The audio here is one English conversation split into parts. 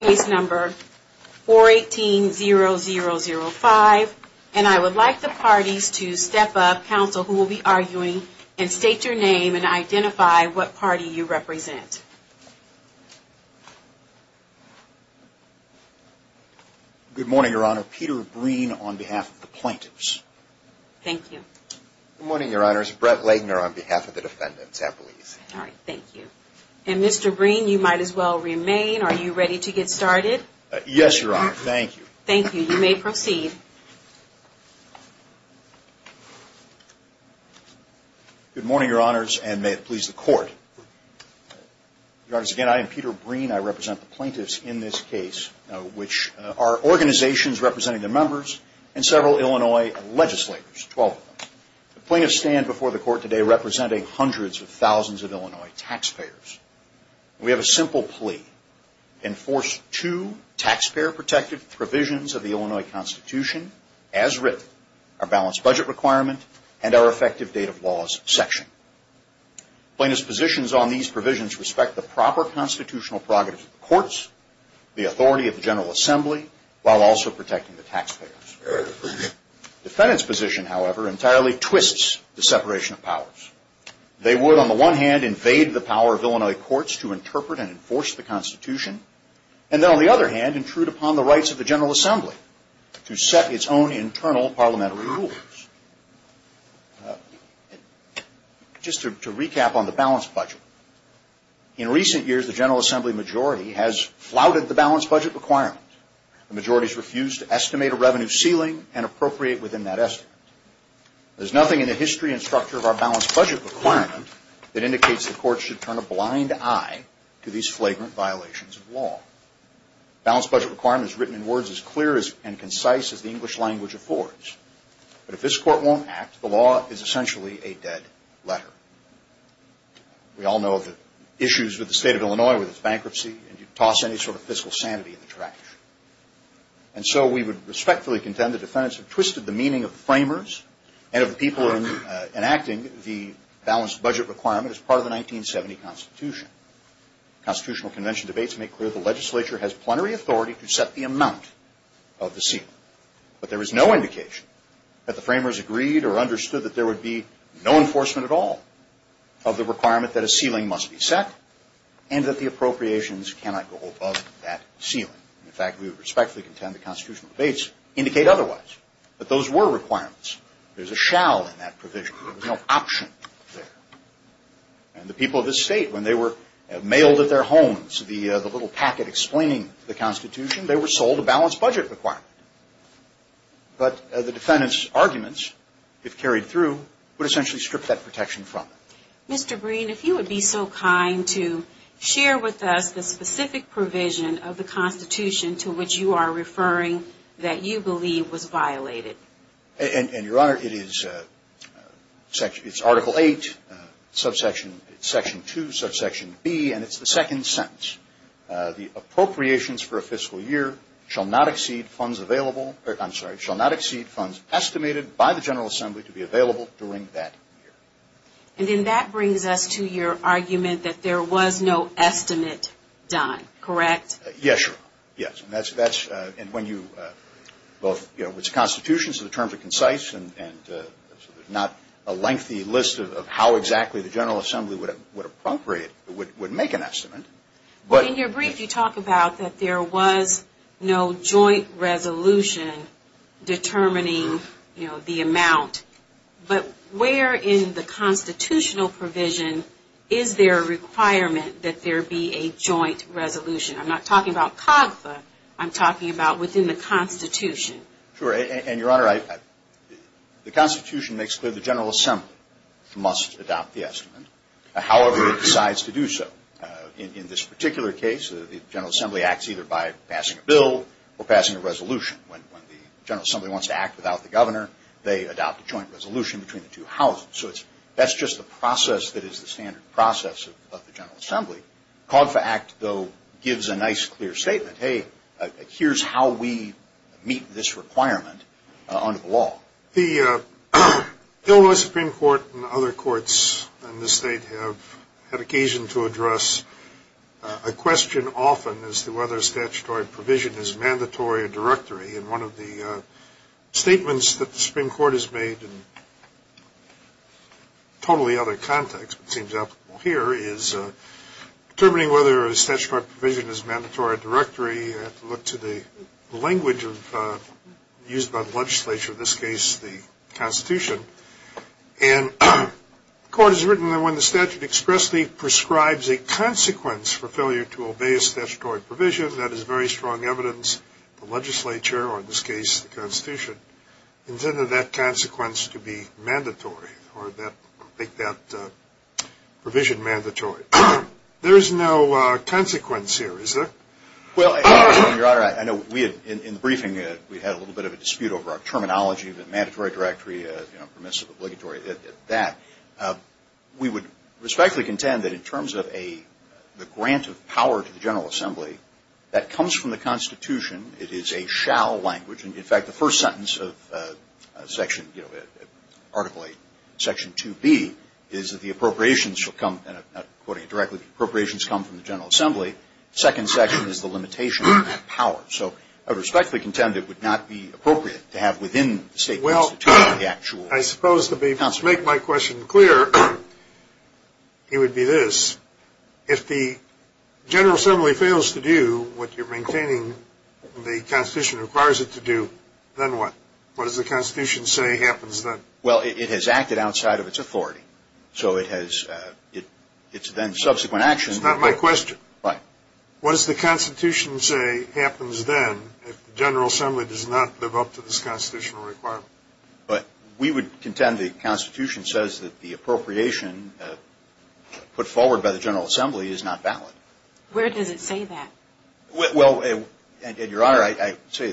Case number 418-0005. And I would like the parties to step up, counsel, who will be arguing, and state your name and identify what party you represent. Good morning, Your Honor. Peter Breen on behalf of the plaintiffs. Thank you. Good morning, Your Honors. Brett Lagner on behalf of the defendants, please. Thank you. And Mr. Breen, you might as well remain. Are you ready to get started? Yes, Your Honor. Thank you. Thank you. You may proceed. Good morning, Your Honors, and may it please the Court. Your Honors, again, I am Peter Breen. I represent the plaintiffs in this case, which are organizations representing their members and several Illinois legislators, 12 of them. The plaintiffs stand before the Court today representing hundreds of thousands of Illinois taxpayers. We have a simple plea. Enforce two taxpayer-protected provisions of the Illinois Constitution, as written, our balanced budget requirement and our effective date of laws section. Plaintiffs' positions on these provisions respect the proper constitutional prerogatives of the courts, the authority of the General Assembly, while also protecting the taxpayers. Defendants' position, however, entirely twists the separation of powers. They would, on the one hand, invade the power of Illinois courts to interpret and enforce the Constitution, and then, on the other hand, intrude upon the rights of the General Assembly to set its own internal parliamentary rules. Just to recap on the balanced budget. In recent years, the General Assembly majority has flouted the balanced budget requirement. The majority has refused to estimate a revenue ceiling and appropriate within that estimate. There is nothing in the history and structure of our balanced budget requirement that indicates the courts should turn a blind eye to these flagrant violations of law. The balanced budget requirement is written in words as clear and concise as the English language affords. But if this Court won't act, the law is essentially a dead letter. We all know the issues with the State of Illinois with its bankruptcy, and you toss any sort of fiscal sanity in the trash. And so we would respectfully contend the defendants have twisted the meaning of the framers and of the people enacting the balanced budget requirement as part of the 1970 Constitution. Constitutional Convention debates make clear the legislature has plenary authority to set the amount of the ceiling. But there is no indication that the framers agreed or understood that there would be no enforcement at all of the requirement that a ceiling must be set and that the appropriations cannot go above that ceiling. In fact, we would respectfully contend the constitutional debates indicate otherwise. But those were requirements. There's a shall in that provision. There was no option there. And the people of this State, when they were mailed at their homes the little packet explaining the Constitution, they were sold a balanced budget requirement. But the defendants' arguments, if carried through, would essentially strip that protection from them. Mr. Breen, if you would be so kind to share with us the specific provision of the Constitution to which you are referring that you believe was violated. And, Your Honor, it is Article 8, Section 2, Subsection B, and it's the second sentence. The appropriations for a fiscal year shall not exceed funds available, I'm sorry, shall not exceed funds estimated by the General Assembly to be available during that year. And then that brings us to your argument that there was no estimate done, correct? Yes, Your Honor. Yes, and that's when you both, you know, it's the Constitution, so the terms are concise, and there's not a lengthy list of how exactly the General Assembly would appropriate, would make an estimate. In your brief, you talk about that there was no joint resolution determining, you know, the amount. But where in the constitutional provision is there a requirement that there be a joint resolution? I'm not talking about COGFA, I'm talking about within the Constitution. Sure. And, Your Honor, the Constitution makes clear the General Assembly must adopt the estimate, however it decides to do so. In this particular case, the General Assembly acts either by passing a bill or passing a resolution. When the General Assembly wants to act without the governor, they adopt a joint resolution between the two houses. So that's just the process that is the standard process of the General Assembly. COGFA Act, though, gives a nice, clear statement. Hey, here's how we meet this requirement under the law. The Illinois Supreme Court and other courts in this state have had occasion to address a question often as to whether a statutory provision is mandatory or directory. And one of the statements that the Supreme Court has made in totally other context, but seems applicable here, is determining whether a statutory provision is mandatory or directory. You have to look to the language used by the legislature, in this case the Constitution. And the Court has written that when the statute expressly prescribes a consequence for failure to obey a statutory provision, that is very strong evidence the legislature, or in this case the Constitution, intended that consequence to be mandatory, or make that provision mandatory. There is no consequence here, is there? Well, Your Honor, I know in the briefing we had a little bit of a dispute over our terminology, the mandatory, directory, permissive, obligatory, that. We would respectfully contend that in terms of the grant of power to the General Assembly, that comes from the Constitution. It is a shall language. In fact, the first sentence of Section, you know, Article 8, Section 2B is that the appropriations will come, and I'm not quoting it directly, the appropriations come from the General Assembly. The second section is the limitation on that power. So I respectfully contend it would not be appropriate to have within the State Constitution the actual consequence. To make my question clear, it would be this. If the General Assembly fails to do what you're maintaining the Constitution requires it to do, then what? What does the Constitution say happens then? Well, it has acted outside of its authority. So it's then subsequent action. That's not my question. What does the Constitution say happens then if the General Assembly does not live up to this constitutional requirement? We would contend the Constitution says that the appropriation put forward by the General Assembly is not valid. Where does it say that? Well, Your Honor, I'd say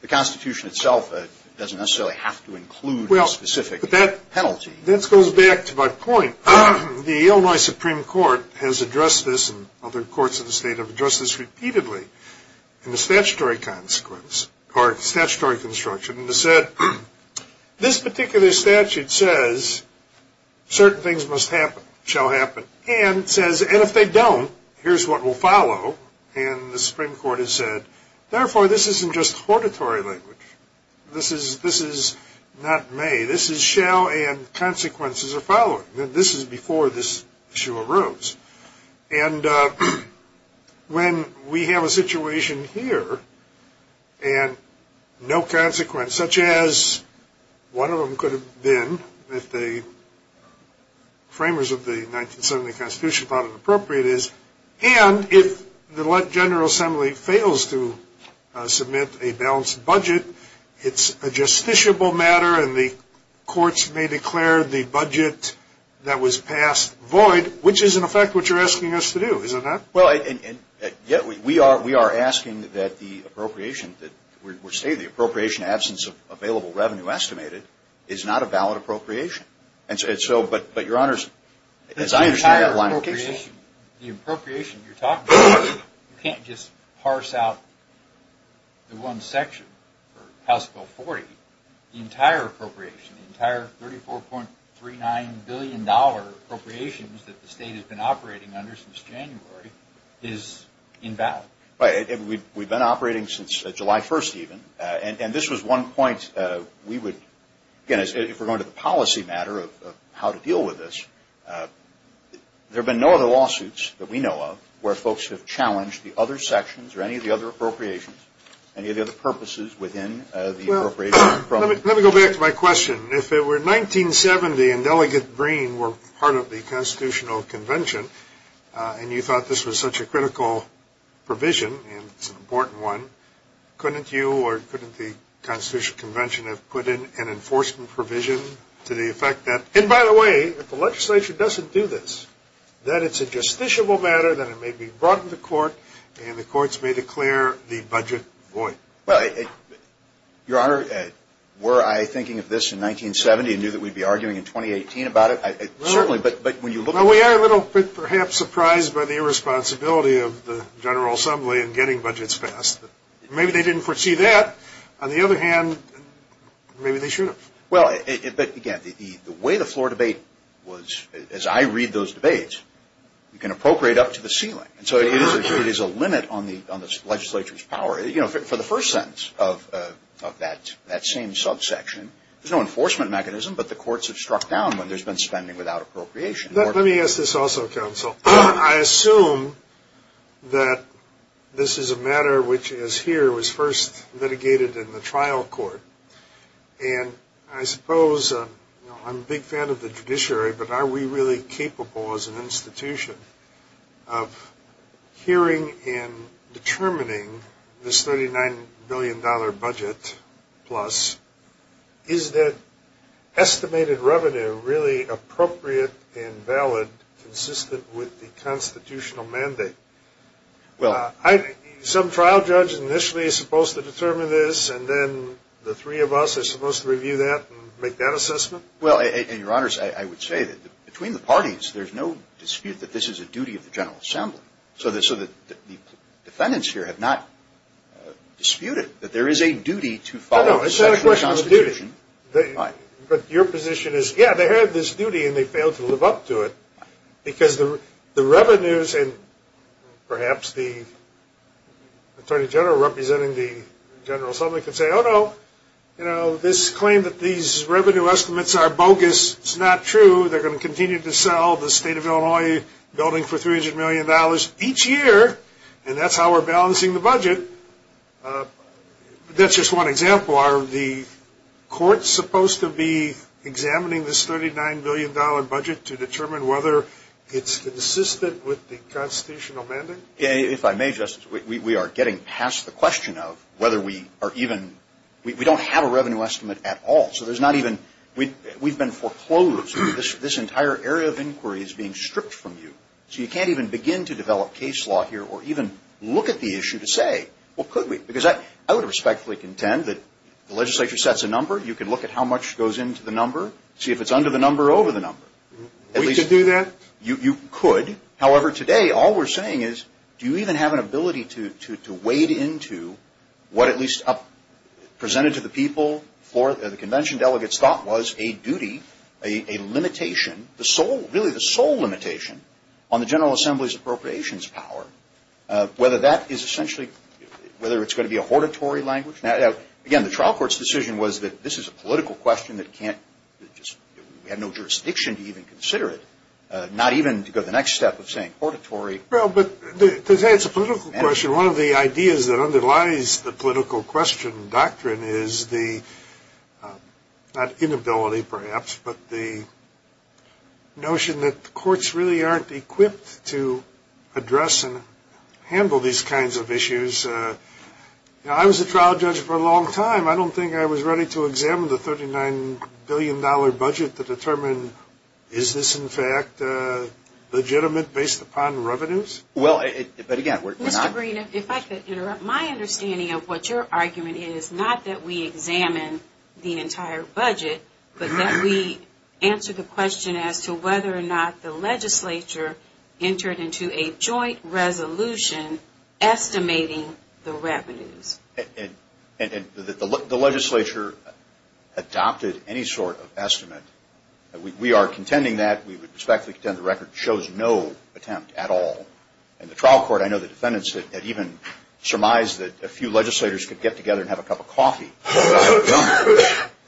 the Constitution itself doesn't necessarily have to include a specific penalty. That goes back to my point. The Illinois Supreme Court has addressed this, and other courts in the State have addressed this repeatedly, and the statutory consequence or statutory construction has said this particular statute says certain things must happen, shall happen, and says, and if they don't, here's what will follow. And the Supreme Court has said, therefore, this isn't just hortatory language. This is not may. This is shall and consequences are following. This is before this issue arose. And when we have a situation here and no consequence, such as one of them could have been, if the framers of the 1970 Constitution thought it appropriate is, and if the General Assembly fails to submit a balanced budget, it's a justiciable matter, and the courts may declare the budget that was passed void, which is, in effect, what you're asking us to do, is it not? Well, and yet we are asking that the appropriation that we're stating, the appropriation absence of available revenue estimated, is not a valid appropriation. And so, but, Your Honors, as I understand your line of questioning. The entire appropriation, the appropriation you're talking about, you can't just parse out the one section for House Bill 40. The entire appropriation, the entire $34.39 billion appropriations that the state has been operating under since January is invalid. Right. We've been operating since July 1st, even. And this was one point we would, again, if we're going to the policy matter of how to deal with this, there have been no other lawsuits that we know of where folks have challenged the other sections or any of the other appropriations, any of the other purposes within the appropriation. Let me go back to my question. If it were 1970 and Delegate Green were part of the Constitutional Convention, and you thought this was such a critical provision, and it's an important one, couldn't you or couldn't the Constitutional Convention have put in an enforcement provision to the effect that, and by the way, if the legislature doesn't do this, that it's a justiciable matter, that it may be brought to the court and the courts may declare the budget void? Your Honor, were I thinking of this in 1970 and knew that we'd be arguing in 2018 about it? Certainly, but when you look at it. Well, we are a little bit perhaps surprised by the irresponsibility of the General Assembly in getting budgets passed. Maybe they didn't foresee that. On the other hand, maybe they should have. Well, but again, the way the floor debate was, as I read those debates, you can appropriate up to the ceiling. And so it is a limit on the legislature's power. You know, for the first sentence of that same subsection, there's no enforcement mechanism, but the courts have struck down when there's been spending without appropriation. Let me ask this also, counsel. I assume that this is a matter which is here, was first litigated in the trial court. And I suppose, you know, I'm a big fan of the judiciary, but are we really capable as an institution of hearing and determining this $39 billion budget plus? Is that estimated revenue really appropriate and valid, consistent with the constitutional mandate? Well, some trial judge initially is supposed to determine this, and then the three of us are supposed to review that and make that assessment? Well, and, Your Honors, I would say that between the parties, there's no dispute that this is a duty of the General Assembly, so that the defendants here have not disputed that there is a duty to follow a sexual constitution. No, no, it's not a question of duty. But your position is, yeah, they have this duty, and they fail to live up to it, because the revenues, and perhaps the Attorney General representing the General Assembly can say, oh, no, you know, this claim that these revenue estimates are bogus, it's not true. They're going to continue to sell the State of Illinois building for $300 million each year, and that's how we're balancing the budget. That's just one example. So are the courts supposed to be examining this $39 billion budget to determine whether it's consistent with the constitutional mandate? If I may, Justice, we are getting past the question of whether we are even – we don't have a revenue estimate at all. So there's not even – we've been foreclosed. This entire area of inquiry is being stripped from you. So you can't even begin to develop case law here or even look at the issue to say, well, could we? Because I would respectfully contend that the legislature sets a number. You can look at how much goes into the number, see if it's under the number or over the number. We could do that? You could. However, today all we're saying is do you even have an ability to wade into what at least presented to the people, the convention delegates thought was a duty, a limitation, really the sole limitation on the General Assembly's appropriations power, whether that is essentially – whether it's going to be a hortatory language. Now, again, the trial court's decision was that this is a political question that can't – we have no jurisdiction to even consider it, not even to go to the next step of saying hortatory. Well, but to say it's a political question, one of the ideas that underlies the political question doctrine is the – not inability, perhaps, but the notion that the courts really aren't equipped to address and handle these kinds of issues. Now, I was a trial judge for a long time. I don't think I was ready to examine the $39 billion budget to determine is this, in fact, legitimate based upon revenues. Well, but, again, we're not – Mr. Green, if I could interrupt. My understanding of what your argument is, not that we examine the entire budget, but that we answer the question as to whether or not the legislature entered into a joint resolution estimating the revenues. And the legislature adopted any sort of estimate. We are contending that. We would respectfully contend the record shows no attempt at all. And the trial court, I know the defendants had even surmised that a few legislators could get together and have a cup of coffee.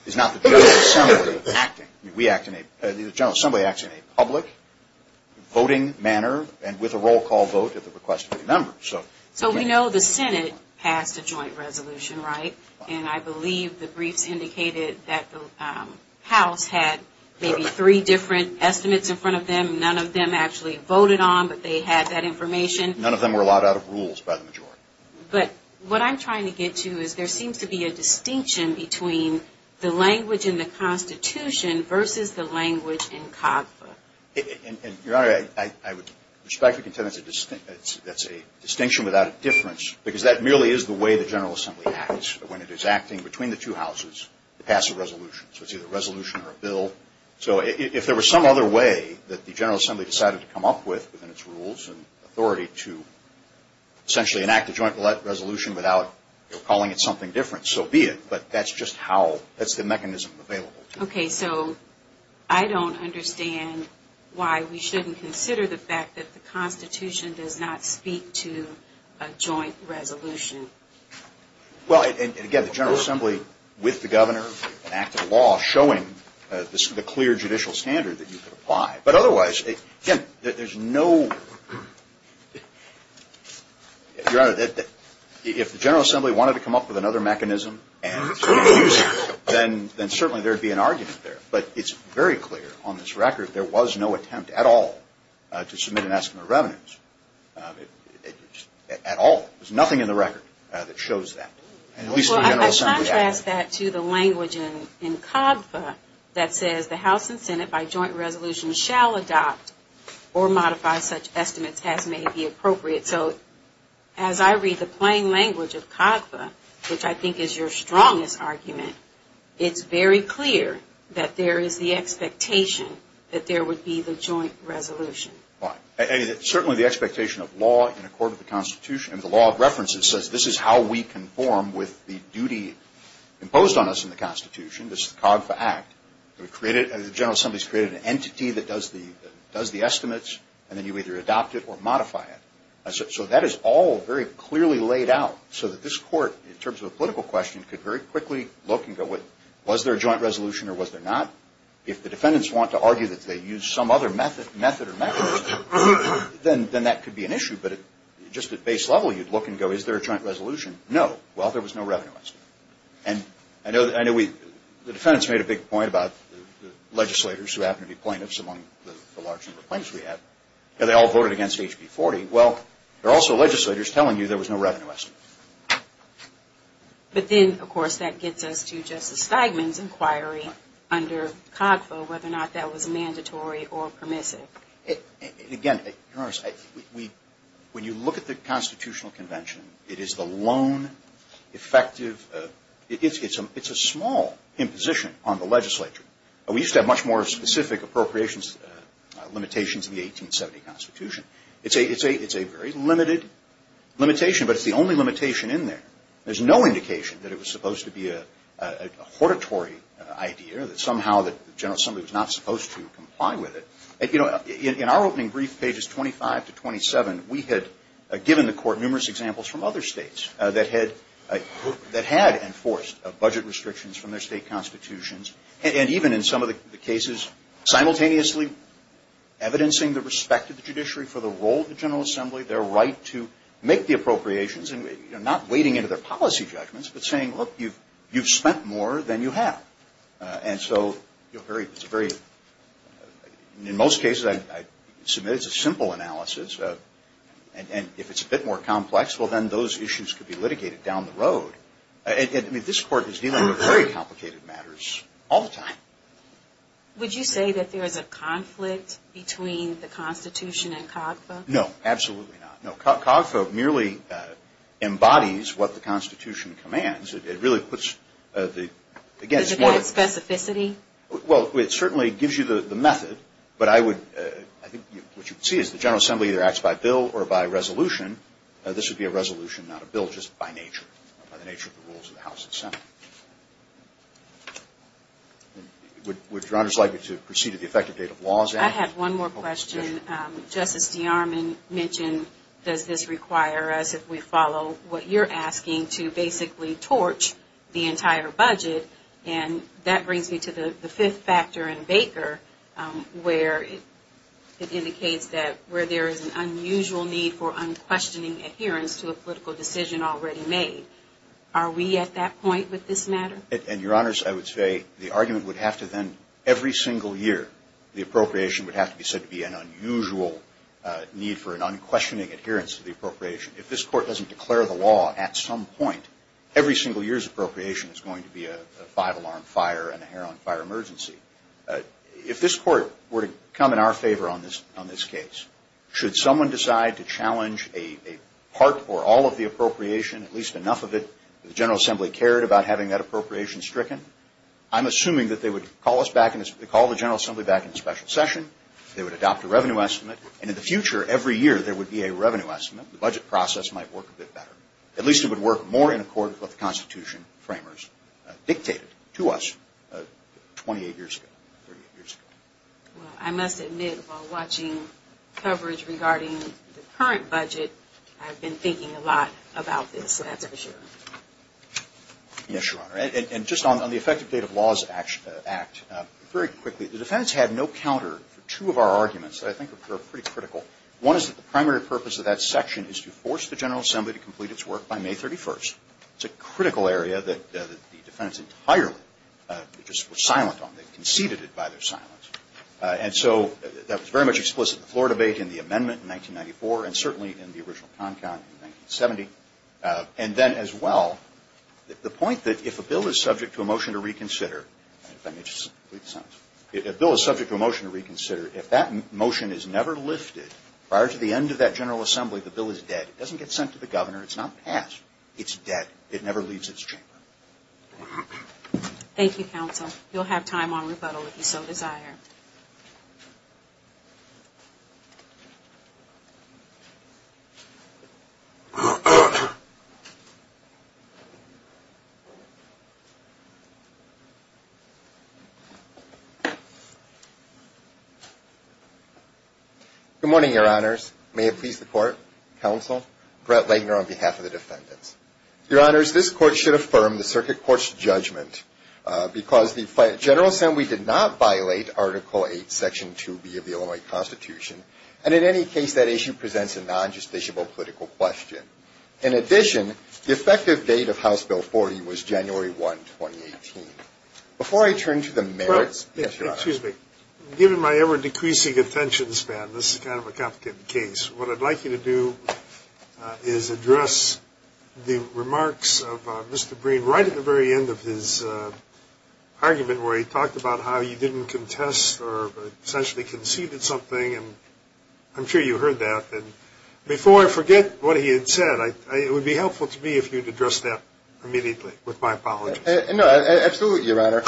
It's not the General Assembly acting. We act in a – the General Assembly acts in a public voting manner and with a roll call vote at the request of the members. So we know the Senate passed a joint resolution, right? And I believe the briefs indicated that the House had maybe three different estimates in front of them. None of them actually voted on, but they had that information. None of them were allowed out of rules by the majority. But what I'm trying to get to is there seems to be a distinction between the language in the Constitution versus the language in CAFA. And, Your Honor, I would respectfully contend that's a distinction without a difference, because that merely is the way the General Assembly acts when it is acting between the two houses to pass a resolution. So it's either a resolution or a bill. So if there was some other way that the General Assembly decided to come up with within its rules and authority to essentially enact a joint resolution without calling it something different, so be it. But that's just how – that's the mechanism available. Okay. So I don't understand why we shouldn't consider the fact that the Constitution does not speak to a joint resolution. Well, and again, the General Assembly with the Governor, an act of law, showing the clear judicial standard that you could apply. But otherwise, again, there's no – Your Honor, if the General Assembly wanted to come up with another mechanism and use it, then certainly there would be an argument there. But it's very clear on this record there was no attempt at all to submit an estimate of revenues. At all. There's nothing in the record that shows that. Well, I contrast that to the language in COGFA that says the House and Senate, by joint resolution, shall adopt or modify such estimates as may be appropriate. So as I read the plain language of COGFA, which I think is your strongest argument, it's very clear that there is the expectation that there would be the joint resolution. Certainly the expectation of law in accord with the Constitution, the law of references, says this is how we conform with the duty imposed on us in the Constitution. This is the COGFA Act. The General Assembly has created an entity that does the estimates, and then you either adopt it or modify it. So that is all very clearly laid out so that this Court, in terms of a political question, could very quickly look and go, was there a joint resolution or was there not? If the defendants want to argue that they used some other method or mechanism, then that could be an issue. But just at base level, you'd look and go, is there a joint resolution? No. Well, there was no revenue estimate. And I know the defendants made a big point about legislators who happen to be plaintiffs, among the large number of plaintiffs we have, and they all voted against HB40. Well, there are also legislators telling you there was no revenue estimate. But then, of course, that gets us to Justice Steigman's inquiry under COGFA, whether or not that was mandatory or permissive. Again, Your Honor, when you look at the Constitutional Convention, it is the lone, effective, it's a small imposition on the legislature. We used to have much more specific appropriations limitations in the 1870 Constitution. It's a very limited limitation, but it's the only limitation in there. There's no indication that it was supposed to be a hortatory idea, that somehow the General Assembly was not supposed to comply with it. In our opening brief, pages 25 to 27, we had given the Court numerous examples from other states that had enforced budget restrictions from their state constitutions, and even in some of the cases simultaneously evidencing the respect of the judiciary for the role of the General Assembly, their right to make the appropriations, and not wading into their policy judgments, but saying, look, you've spent more than you have. And so it's a very, in most cases, it's a simple analysis. And if it's a bit more complex, well, then those issues could be litigated down the road. I mean, this Court is dealing with very complicated matters all the time. Would you say that there is a conflict between the Constitution and CAWGFA? No, absolutely not. No, CAWGFA merely embodies what the Constitution commands. It really puts the, again, it's more of a – Is it more specificity? Well, it certainly gives you the method, but I would, I think what you would see is the General Assembly either acts by bill or by resolution. This would be a resolution, not a bill, just by nature, by the nature of the rules of the House and Senate. Would Your Honor's like me to proceed to the effective date of laws? I have one more question. Justice DeArmond mentioned, does this require us, if we follow what you're asking, to basically torch the entire budget? And that brings me to the fifth factor in Baker where it indicates that where there is an unusual need for unquestioning adherence to a political decision already made, are we at that point with this matter? And, Your Honors, I would say the argument would have to then, every single year, the appropriation would have to be said to be an unusual need for an unquestioning adherence to the appropriation. If this Court doesn't declare the law at some point, every single year's appropriation is going to be a five-alarm fire and a hair-on-fire emergency. If this Court were to come in our favor on this case, should someone decide to challenge a part or all of the appropriation, at least enough of it, that the General Assembly cared about having that appropriation stricken? I'm assuming that they would call the General Assembly back in a special session, they would adopt a revenue estimate, and in the future, every year, there would be a revenue estimate. The budget process might work a bit better. At least it would work more in accordance with the Constitution framers dictated to us 28 years ago. Well, I must admit, while watching coverage regarding the current budget, I've been thinking a lot about this, so that's for sure. Yes, Your Honor. And just on the effective date of laws act, very quickly, the defense had no counter for two of our arguments that I think are pretty critical. One is that the primary purpose of that section is to force the General Assembly to complete its work by May 31st. It's a critical area that the defendants entirely just were silent on. They conceded it by their silence. And so that was very much explicit in the floor debate, in the amendment in 1994, and certainly in the original CONCON in 1970. And then as well, the point that if a bill is subject to a motion to reconsider Let me just read the sentence. If a bill is subject to a motion to reconsider, if that motion is never lifted, prior to the end of that General Assembly, the bill is dead. It doesn't get sent to the governor. It's not passed. It's dead. It never leaves its chamber. Thank you, counsel. You'll have time on rebuttal if you so desire. Good morning, Your Honors. May it please the court, counsel, Brett Lagner on behalf of the defendants. Your Honors, this court should affirm the Circuit Court's judgment because the General Assembly did not violate Article 8, Section 2B of the Illinois Constitution, and in any case, that issue presents a non-justiciable political question. In addition, the effective date of House Bill 40 was January 1, 2018. Before I turn to the merits, yes, Your Honor. Excuse me. Given my ever-decreasing attention span, this is kind of a complicated case. What I'd like you to do is address the remarks of Mr. Breen right at the very end of his argument where he talked about how you didn't contest or essentially conceded something, and I'm sure you heard that. And before I forget what he had said, it would be helpful to me if you would address that immediately with my apologies. No, absolutely, Your Honor.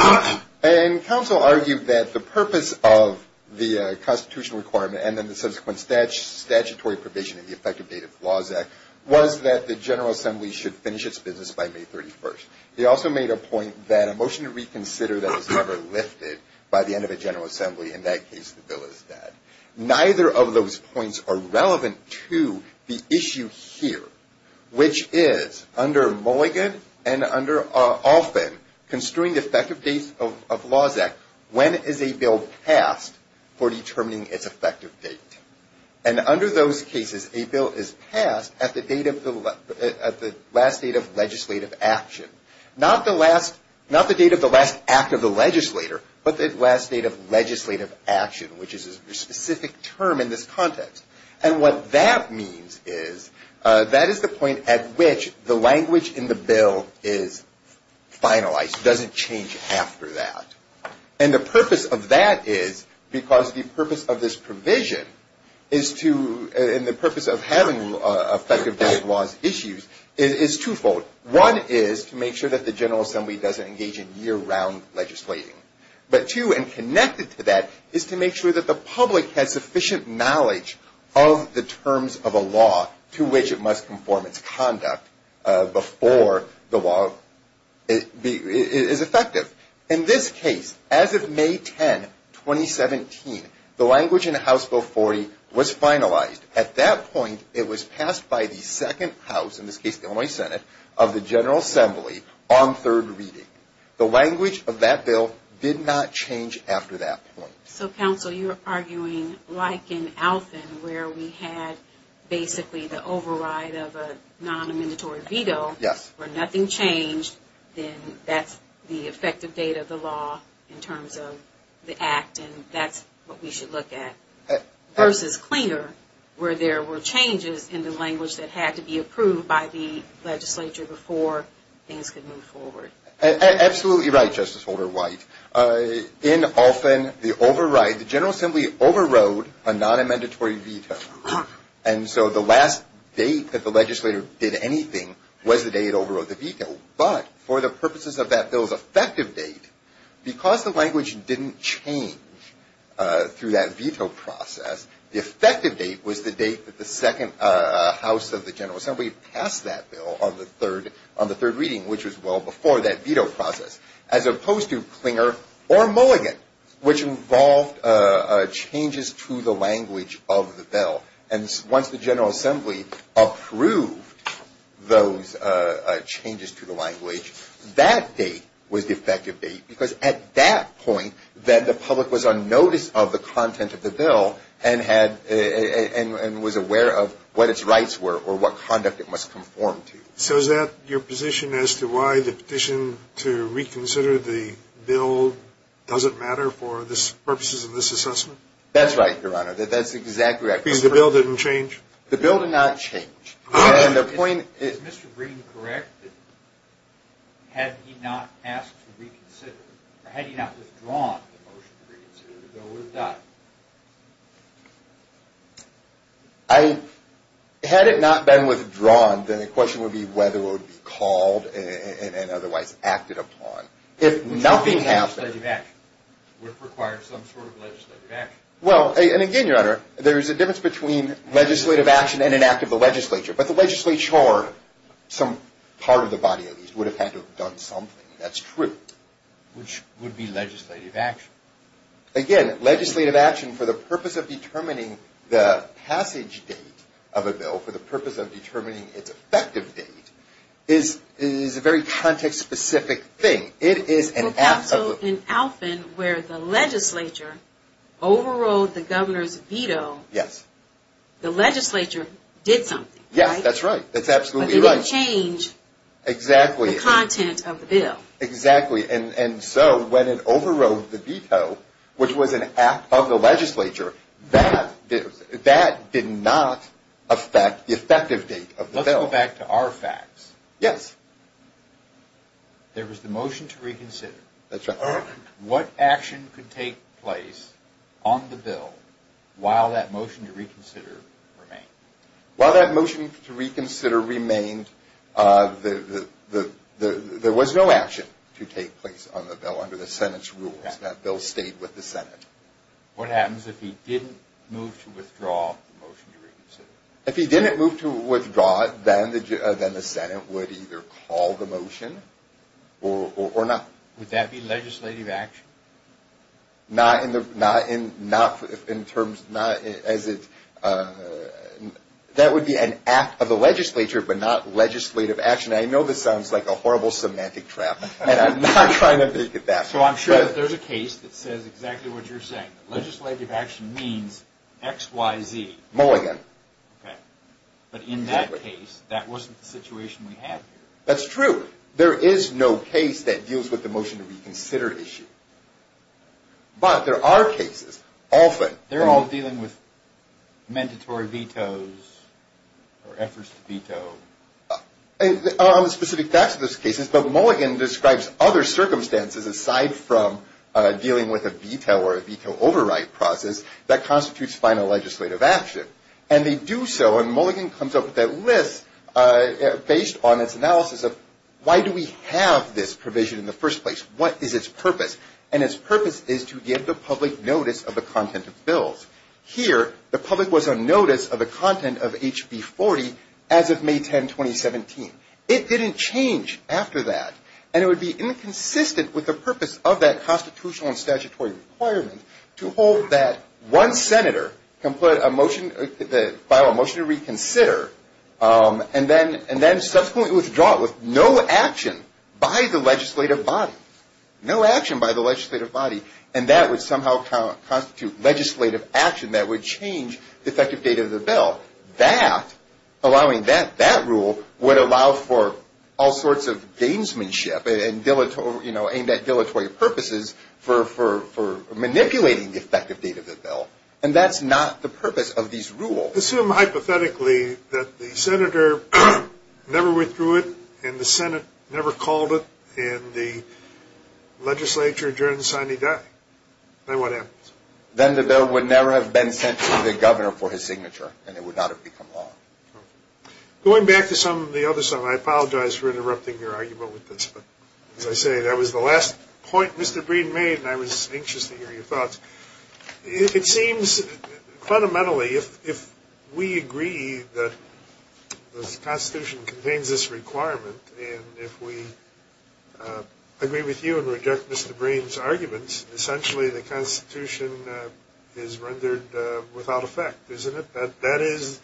And counsel argued that the purpose of the constitutional requirement and then the subsequent statutory provision in the Effective Date of Laws Act was that the General Assembly should finish its business by May 31st. He also made a point that a motion to reconsider that was never lifted by the end of a General Assembly, in that case, the bill is dead. Neither of those points are relevant to the issue here, which is under Mulligan and under Olphin, Construing the Effective Date of Laws Act, when is a bill passed for determining its effective date? And under those cases, a bill is passed at the last date of legislative action. Not the date of the last act of the legislator, but the last date of legislative action, which is a specific term in this context. And what that means is that is the point at which the language in the bill is finalized. It doesn't change after that. And the purpose of that is because the purpose of this provision is to, and the purpose of having effective date of laws issues is twofold. One is to make sure that the General Assembly doesn't engage in year-round legislating. But two, and connected to that, is to make sure that the public has sufficient knowledge of the terms of a law to which it must conform its conduct before the law is effective. In this case, as of May 10, 2017, the language in House Bill 40 was finalized. At that point, it was passed by the second house, in this case the Illinois Senate, of the General Assembly on third reading. The language of that bill did not change after that point. So, counsel, you're arguing like in Alfin, where we had basically the override of a non-amendatory veto, where nothing changed, then that's the effective date of the law in terms of the act, and that's what we should look at. Versus Clinger, where there were changes in the language that had to be approved by the legislature before things could move forward. Absolutely right, Justice Holder-White. In Alfin, the override, the General Assembly overrode a non-amendatory veto. And so the last date that the legislator did anything was the day it overrode the veto. But for the purposes of that bill's effective date, because the language didn't change through that veto process, the effective date was the date that the second house of the General Assembly passed that bill on the third reading, which was well before that veto process. As opposed to Clinger or Mulligan, which involved changes to the language of the bill. And once the General Assembly approved those changes to the language, that date was the effective date, because at that point, that the public was on notice of the content of the bill and was aware of what its rights were or what conduct it must conform to. So is that your position as to why the petition to reconsider the bill doesn't matter for the purposes of this assessment? That's right, Your Honor. That's exactly right. Because the bill didn't change? The bill did not change. Is Mr. Green correct that had he not asked to reconsider, or had he not withdrawn the motion to reconsider, the bill would have died? Had it not been withdrawn, then the question would be whether it would be called and otherwise acted upon. If nothing happened. Which would require some sort of legislative action. Well, and again, Your Honor, there is a difference between legislative action and an act of the legislature. But the legislature, or some part of the body at least, would have had to have done something. That's true. Which would be legislative action. Again, legislative action for the purpose of determining the passage date of a bill, for the purpose of determining its effective date, is a very context-specific thing. Also, in Alfin, where the legislature overrode the governor's veto, the legislature did something, right? Yes, that's right. That's absolutely right. But they didn't change the content of the bill. Exactly. And so, when it overrode the veto, which was an act of the legislature, that did not affect the effective date of the bill. Let's go back to our facts. Yes. There was the motion to reconsider. That's right. What action could take place on the bill while that motion to reconsider remained? While that motion to reconsider remained, there was no action to take place on the bill under the Senate's rules. That bill stayed with the Senate. What happens if he didn't move to withdraw the motion to reconsider? If he didn't move to withdraw it, then the Senate would either call the motion or not. Would that be legislative action? That would be an act of the legislature, but not legislative action. I know this sounds like a horrible semantic trap, and I'm not trying to make it that way. So, I'm sure that there's a case that says exactly what you're saying. Legislative action means X, Y, Z. Mulligan. Okay. But in that case, that wasn't the situation we had here. That's true. There is no case that deals with the motion to reconsider issue. But there are cases. Often. They're all dealing with mandatory vetoes or efforts to veto. On the specific facts of those cases, but Mulligan describes other circumstances aside from dealing with a veto process that constitutes final legislative action. And they do so. And Mulligan comes up with that list based on its analysis of why do we have this provision in the first place? What is its purpose? And its purpose is to give the public notice of the content of bills. Here, the public was on notice of the content of HB40 as of May 10, 2017. It didn't change after that. And it would be inconsistent with the purpose of that constitutional and statutory requirement to hold that one senator can file a motion to reconsider and then subsequently withdraw it with no action by the legislative body. No action by the legislative body. And that would somehow constitute legislative action that would change the effective date of the bill. That, allowing that, that rule would allow for all sorts of gamesmanship and, you know, aim at dilatory purposes for manipulating the effective date of the bill. And that's not the purpose of these rules. Assume hypothetically that the senator never withdrew it and the Senate never called it in the legislature during Sunday day. Then what happens? Then the bill would never have been sent to the governor for his signature and it would not have become law. Going back to some of the other stuff, I apologize for interrupting your argument with this, but as I say, that was the last point Mr. Breen made and I was anxious to hear your thoughts. It seems fundamentally if we agree that the Constitution contains this requirement and if we agree with you and reject Mr. Breen's arguments, essentially the Constitution is rendered without effect, isn't it? That is,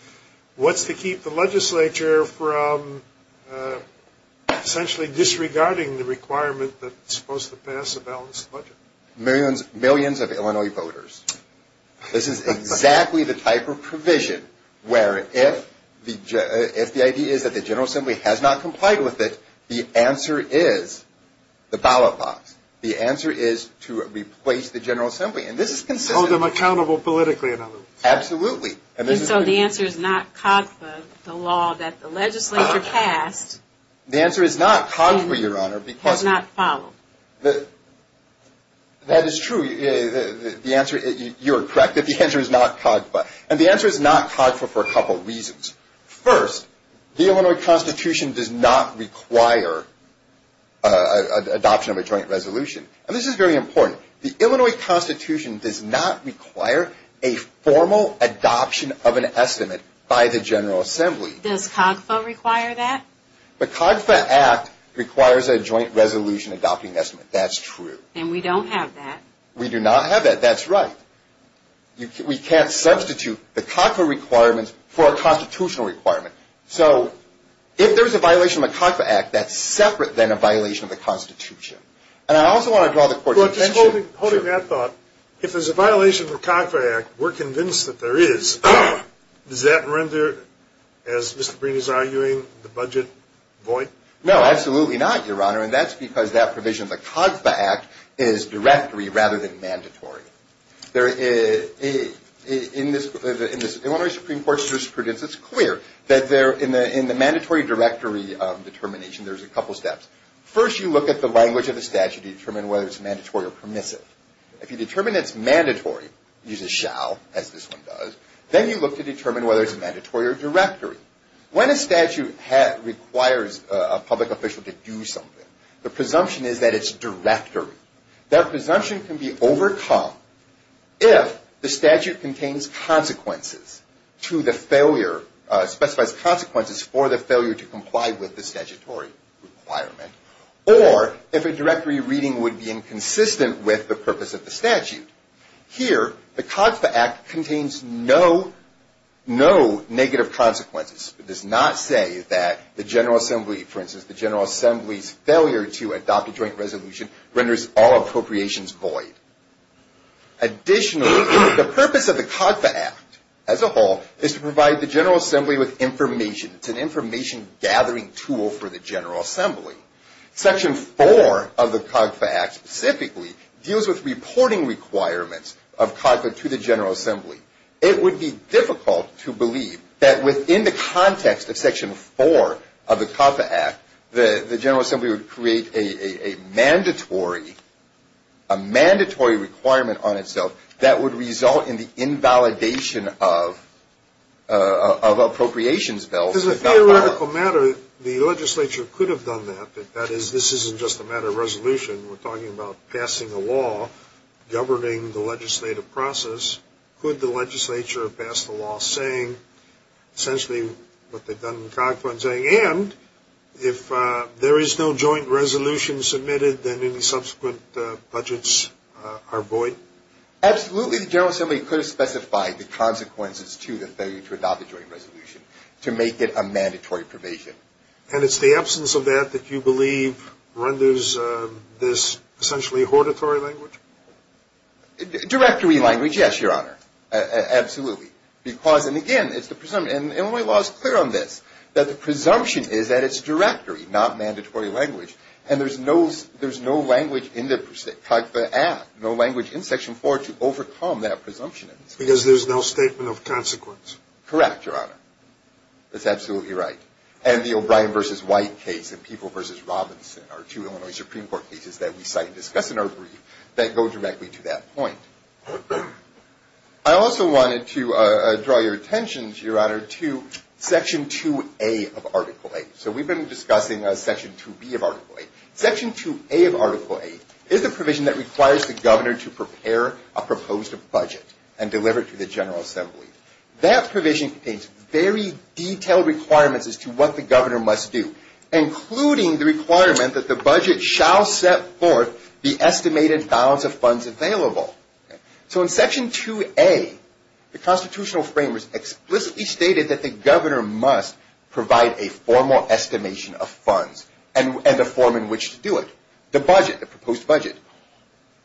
what's to keep the legislature from essentially disregarding the requirement that's supposed to pass a balanced budget? Millions of Illinois voters. This is exactly the type of provision where if the idea is that the General Assembly has not complied with it, the answer is the ballot box. The answer is to replace the General Assembly. And this is consistent. Hold them accountable politically. Absolutely. And so the answer is not COGFA, the law that the legislature passed. The answer is not COGFA, Your Honor. Has not followed. That is true. You are correct that the answer is not COGFA. And the answer is not COGFA for a couple of reasons. First, the Illinois Constitution does not require adoption of a joint resolution. And this is very important. The Illinois Constitution does not require a formal adoption of an estimate by the General Assembly. Does COGFA require that? The COGFA Act requires a joint resolution adopting an estimate. That's true. And we don't have that. We do not have that. That's right. We can't substitute the COGFA requirements for a constitutional requirement. So if there's a violation of the COGFA Act, that's separate than a violation of the Constitution. And I also want to draw the Court's attention to – Holding that thought, if there's a violation of the COGFA Act, we're convinced that there is. Does that render, as Mr. Breen is arguing, the budget void? No, absolutely not, Your Honor. And that's because that provision of the COGFA Act is directory rather than mandatory. In Illinois Supreme Court's jurisprudence, it's clear that in the mandatory directory determination, there's a couple steps. First, you look at the language of the statute to determine whether it's mandatory or permissive. If you determine it's mandatory, you use a shall, as this one does, then you look to determine whether it's mandatory or directory. When a statute requires a public official to do something, the presumption is that it's directory. That presumption can be overcome if the statute contains consequences to the failure – specifies consequences for the failure to comply with the statutory requirement, or if a directory reading would be inconsistent with the purpose of the statute. Here, the COGFA Act contains no negative consequences. It does not say that the General Assembly – for instance, the General Assembly's failure to adopt a joint resolution renders all appropriations void. Additionally, the purpose of the COGFA Act as a whole is to provide the General Assembly with information. It's an information gathering tool for the General Assembly. Section 4 of the COGFA Act specifically deals with reporting requirements of COGFA to the General Assembly. It would be difficult to believe that within the context of Section 4 of the COGFA Act, the General Assembly would create a mandatory requirement on itself that would result in the invalidation of appropriations bills. As a theoretical matter, the legislature could have done that. That is, this isn't just a matter of resolution. We're talking about passing a law governing the legislative process. Could the legislature have passed a law saying essentially what they've done in COGFA and saying, and if there is no joint resolution submitted, then any subsequent budgets are void? Absolutely, the General Assembly could have specified the consequences to the failure to adopt a joint resolution to make it a mandatory provision. And it's the absence of that that you believe renders this essentially a hortatory language? Directory language, yes, Your Honor. Absolutely. Because, and again, it's the presumption, and Illinois law is clear on this, that the presumption is that it's directory, not mandatory language. And there's no language in the COGFA Act, no language in Section 4 to overcome that presumption. Because there's no statement of consequence. Correct, Your Honor. That's absolutely right. And the O'Brien v. White case and People v. Robinson are two Illinois Supreme Court cases that we cite and discuss in our brief that go directly to that point. I also wanted to draw your attention, Your Honor, to Section 2A of Article 8. So we've been discussing Section 2B of Article 8. Section 2A of Article 8 is a provision that requires the governor to prepare a proposed budget and deliver it to the General Assembly. That provision contains very detailed requirements as to what the governor must do, including the requirement that the budget shall set forth the estimated balance of funds available. So in Section 2A, the constitutional framers explicitly stated that the governor must provide a formal estimation of funds and the form in which to do it, the budget, the proposed budget.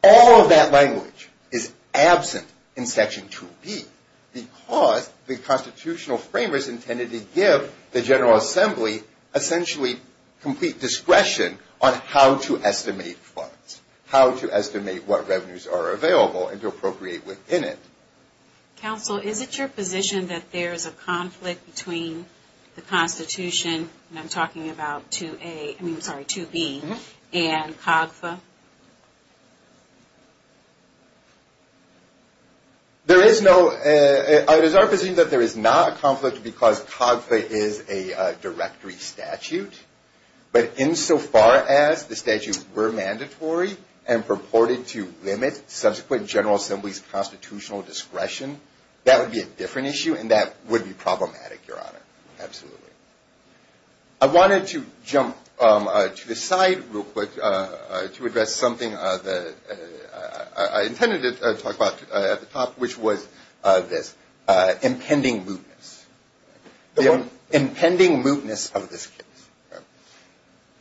All of that language is absent in Section 2B because the constitutional framers intended to give the General Assembly essentially complete discretion on how to estimate funds, how to estimate what revenues are available and to appropriate within it. Counsel, is it your position that there is a conflict between the Constitution, and I'm talking about 2A, I mean, sorry, 2B, and COGFA? There is no, it is our position that there is not a conflict because COGFA is a directory statute. But insofar as the statutes were mandatory and purported to limit subsequent General Assembly's constitutional discretion, that would be a different issue, and that would be problematic, Your Honor, absolutely. I wanted to jump to the side real quick to address something that I intended to talk about at the top, which was this impending mootness, the impending mootness of this case.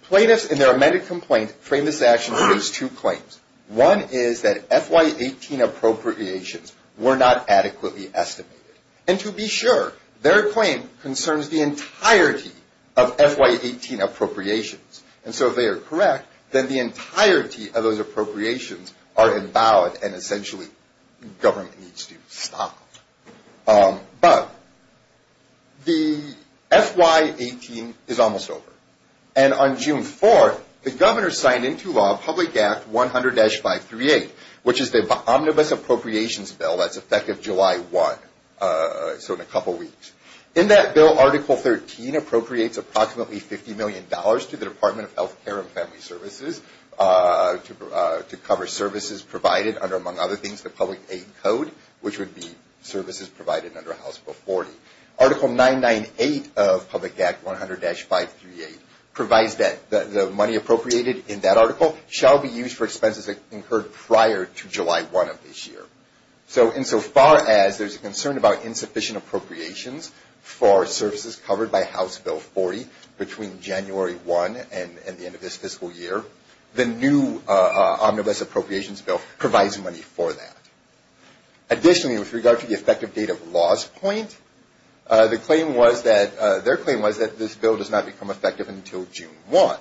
Plaintiffs in their amended complaint frame this action based on two claims. One is that FY18 appropriations were not adequately estimated. And to be sure, their claim concerns the entirety of FY18 appropriations. And so if they are correct, then the entirety of those appropriations are invalid, and essentially government needs to stop them. But the FY18 is almost over. And on June 4th, the governor signed into law Public Act 100-538, which is the omnibus appropriations bill that's effective July 1, so in a couple weeks. In that bill, Article 13 appropriates approximately $50 million to the Department of Health Care and Family Services to cover services provided under, among other things, the Public Aid Code, which would be services provided under House Bill 40. Article 998 of Public Act 100-538 provides that the money appropriated in that article shall be used for expenses incurred prior to July 1 of this year. So insofar as there's a concern about insufficient appropriations for services covered by House Bill 40 between January 1 and the end of this fiscal year, the new omnibus appropriations bill provides money for that. Additionally, with regard to the effective date of loss point, their claim was that this bill does not become effective until June 1.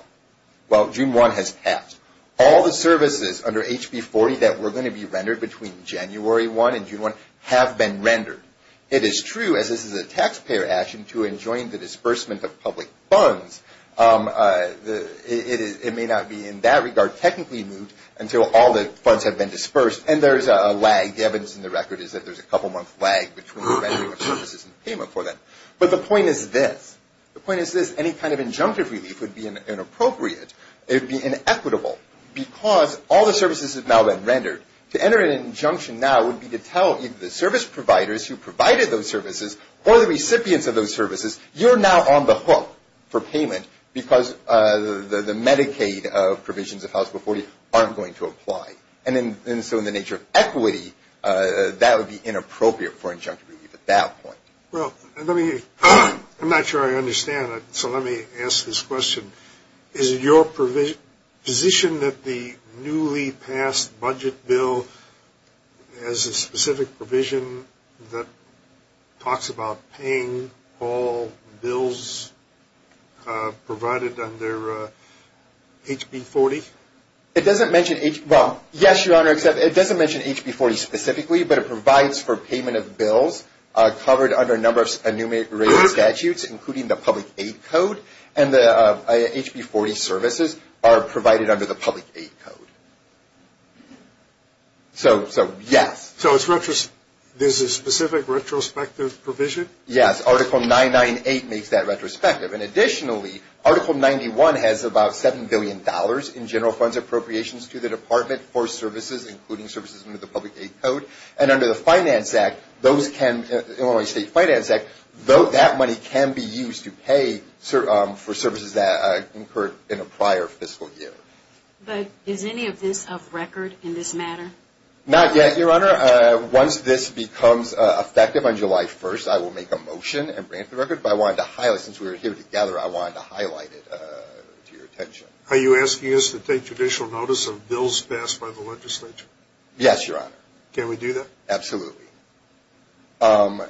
Well, June 1 has passed. All the services under House Bill 40 that were going to be rendered between January 1 and June 1 have been rendered. It is true, as this is a taxpayer action, to enjoin the disbursement of public funds. It may not be in that regard technically moved until all the funds have been disbursed, and there's a lag. The evidence in the record is that there's a couple-month lag between the rendering of services and payment for that. But the point is this. The point is this. Any kind of injunctive relief would be inappropriate. It would be inequitable because all the services have now been rendered. To enter an injunction now would be to tell either the service providers who provided those services or the recipients of those services, you're now on the hook for payment because the Medicaid provisions of House Bill 40 aren't going to apply. And so in the nature of equity, that would be inappropriate for injunctive relief at that point. Well, I'm not sure I understand it, so let me ask this question. Is it your position that the newly passed budget bill has a specific provision that talks about paying all bills provided under HB 40? It doesn't mention HB 40 specifically, but it provides for payment of bills covered under a number of enumerated statutes, including the public aid code, and the HB 40 services are provided under the public aid code. So, yes. So there's a specific retrospective provision? Yes. Article 998 makes that retrospective. And additionally, Article 91 has about $7 billion in general funds appropriations to the department for services, including services under the public aid code. And under the Illinois State Finance Act, that money can be used to pay for services that incurred in a prior fiscal year. But is any of this off record in this matter? Not yet, Your Honor. Once this becomes effective on July 1st, I will make a motion and grant the record. But since we're here together, I wanted to highlight it to your attention. Are you asking us to take judicial notice of bills passed by the legislature? Yes, Your Honor. Can we do that? Absolutely. And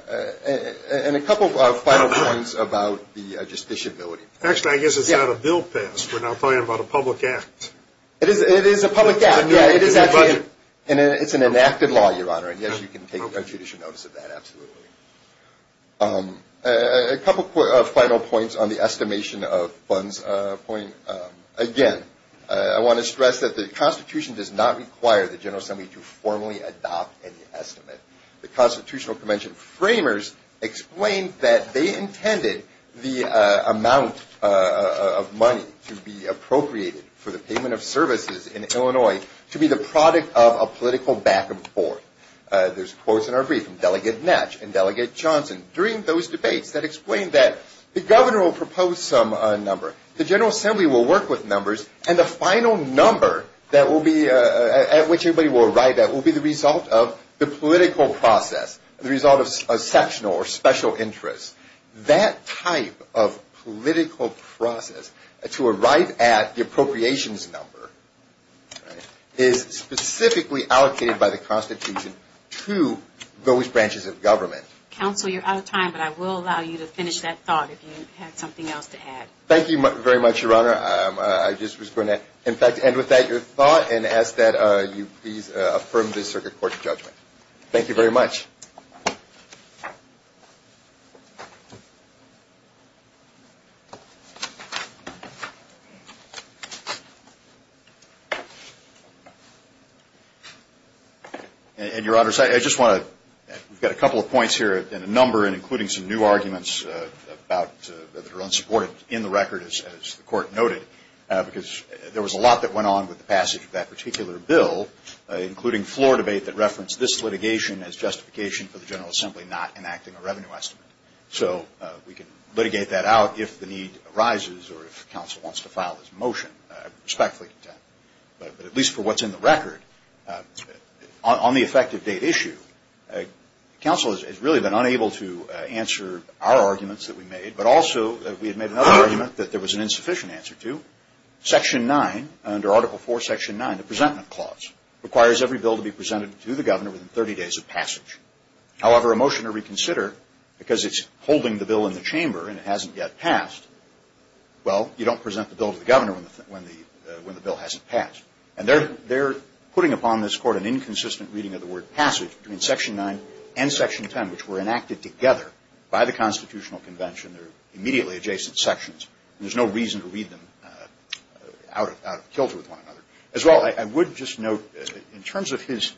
a couple of final points about the justiciability. Actually, I guess it's not a bill passed. We're now talking about a public act. It is a public act. It's an enacted law, Your Honor, and, yes, you can take judicial notice of that, absolutely. A couple of final points on the estimation of funds. Again, I want to stress that the Constitution does not require the General Assembly to formally adopt any estimate. The Constitutional Convention framers explained that they intended the amount of money to be appropriated for the payment of services in Illinois to be the product of a political back and forth. There's quotes in our brief from Delegate Netsch and Delegate Johnson. During those debates, that explained that the governor will propose some number. The General Assembly will work with numbers. And the final number that will be at which everybody will arrive at will be the result of the political process, the result of a sectional or special interest. That type of political process to arrive at the appropriations number is specifically allocated by the Constitution to those branches of government. Counsel, you're out of time, but I will allow you to finish that thought if you had something else to add. Thank you very much, Your Honor. I just was going to, in fact, end with that thought and ask that you please affirm this Circuit Court judgment. Thank you very much. And, Your Honors, I just want to, we've got a couple of points here and a number, and including some new arguments that are unsupported in the record, as the Court noted, because there was a lot that went on with the passage of that particular bill, including floor debate that referenced this litigation as justification for the General Assembly not enacting a revenue estimate. So we can litigate that out if the need arises or if counsel wants to file this motion. I respectfully contend. But at least for what's in the record, on the effective date issue, counsel has really been unable to answer our arguments that we made, but also we had made another argument that there was an insufficient answer to. Section 9, under Article 4, Section 9, the Presentment Clause, requires every bill to be presented to the governor within 30 days of passage. However, a motion to reconsider, because it's holding the bill in the chamber and it hasn't yet passed, well, you don't present the bill to the governor when the bill hasn't passed. And they're putting upon this Court an inconsistent reading of the word passage between Section 9 and Section 10, which were enacted together by the Constitutional Convention. They're immediately adjacent sections. There's no reason to read them out of kilter with one another. As well, I would just note, in terms of his,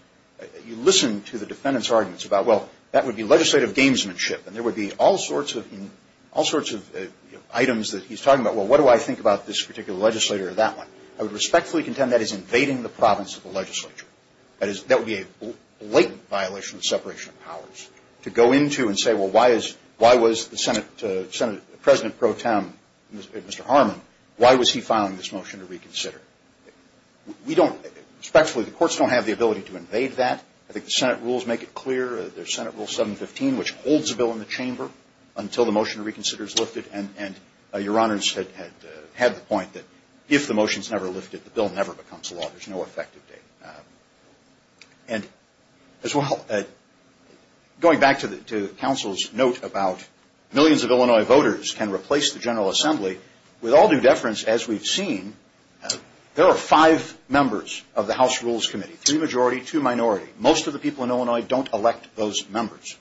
you listen to the defendant's arguments about, well, that would be legislative gamesmanship. And there would be all sorts of items that he's talking about. Well, what do I think about this particular legislator or that one? I would respectfully contend that is invading the province of the legislature. That would be a blatant violation of separation of powers to go into and say, well, why was the Senate president pro tem, Mr. Harmon, why was he filing this motion to reconsider? We don't, respectfully, the courts don't have the ability to invade that. I think the Senate rules make it clear. There's Senate Rule 715, which holds a bill in the chamber until the motion to reconsider is lifted. And Your Honors had the point that if the motion is never lifted, the bill never becomes law. There's no effective date. And as well, going back to counsel's note about millions of Illinois voters can replace the General Assembly. With all due deference, as we've seen, there are five members of the House Rules Committee, three majority, two minority. Most of the people in Illinois don't elect those members.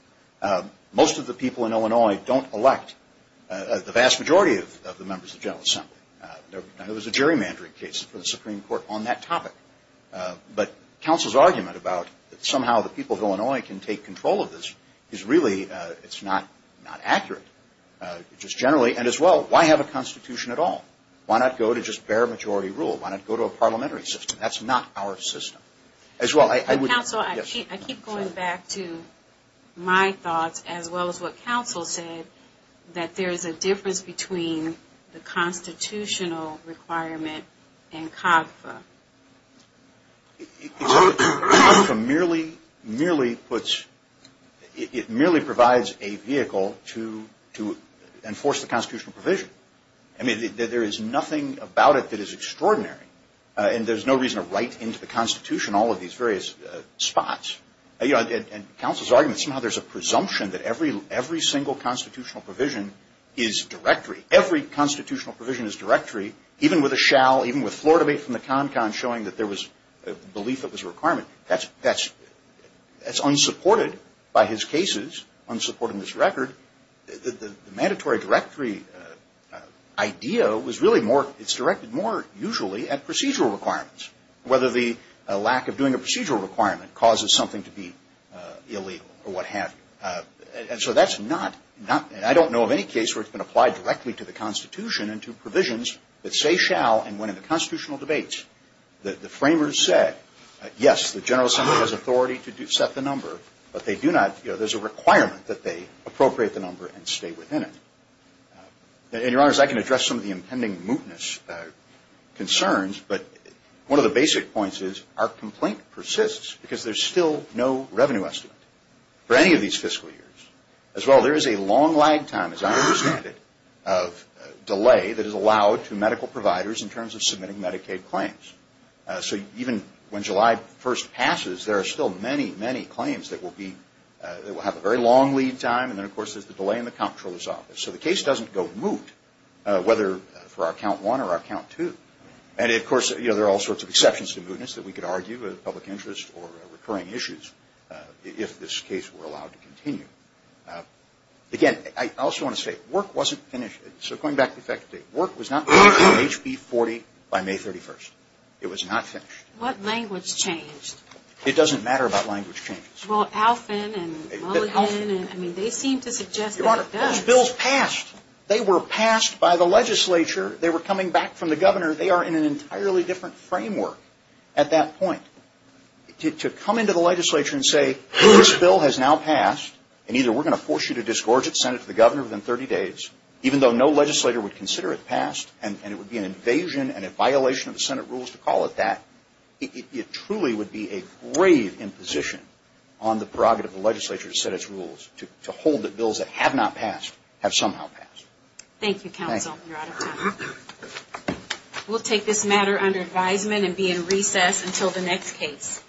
Most of the people in Illinois don't elect the vast majority of the members of the General Assembly. There was a gerrymandering case for the Supreme Court on that topic. But counsel's argument about somehow the people of Illinois can take control of this is really, it's not accurate. Just generally, and as well, why have a constitution at all? Why not go to just bare majority rule? Why not go to a parliamentary system? That's not our system. As well, I would... Counsel, I keep going back to my thoughts as well as what counsel said, that there is a difference between the constitutional requirement and COGFA. COGFA merely puts, it merely provides a vehicle to enforce the constitutional provision. I mean, there is nothing about it that is extraordinary. And there's no reason to write into the Constitution all of these various spots. And counsel's argument, somehow there's a presumption that every single constitutional provision is directory. Every constitutional provision is directory, even with a shall, even with floor debate from the CONCON showing that there was a belief it was a requirement. That's unsupported by his cases, unsupporting his record. The mandatory directory idea was really more, it's directed more usually at procedural requirements, whether the lack of doing a procedural requirement causes something to be illegal or what have you. And so that's not, I don't know of any case where it's been applied directly to the Constitution and to provisions that say shall and when in the constitutional debates the framers said, yes, the General Assembly has authority to set the number, but they do not, there's a requirement that they appropriate the number and stay within it. And, Your Honors, I can address some of the impending mootness concerns, but one of the basic points is our complaint persists because there's still no revenue estimate. For any of these fiscal years, as well, there is a long lag time, as I understand it, of delay that is allowed to medical providers in terms of submitting Medicaid claims. So even when July 1st passes, there are still many, many claims that will be, that will have a very long lead time, and then, of course, there's the delay in the comptroller's office. So the case doesn't go moot, whether for our count one or our count two. And, of course, there are all sorts of exceptions to mootness that we could argue, whether public interest or recurring issues, if this case were allowed to continue. Again, I also want to say, work wasn't finished. So going back to the effective date, work was not finished on HB40 by May 31st. It was not finished. What language changed? It doesn't matter about language changes. Well, Alfin and Mulligan, I mean, they seem to suggest that it does. Your Honor, those bills passed. They were passed by the legislature. They were coming back from the governor. They are in an entirely different framework at that point. To come into the legislature and say, this bill has now passed, and either we're going to force you to disgorge its Senate to the governor within 30 days, even though no legislator would consider it passed, and it would be an invasion and a violation of the Senate rules to call it that, it truly would be a grave imposition on the prerogative of the legislature to set its rules, to hold that bills that have not passed have somehow passed. Thank you, counsel. We'll take this matter under advisement and be in recess until the next case.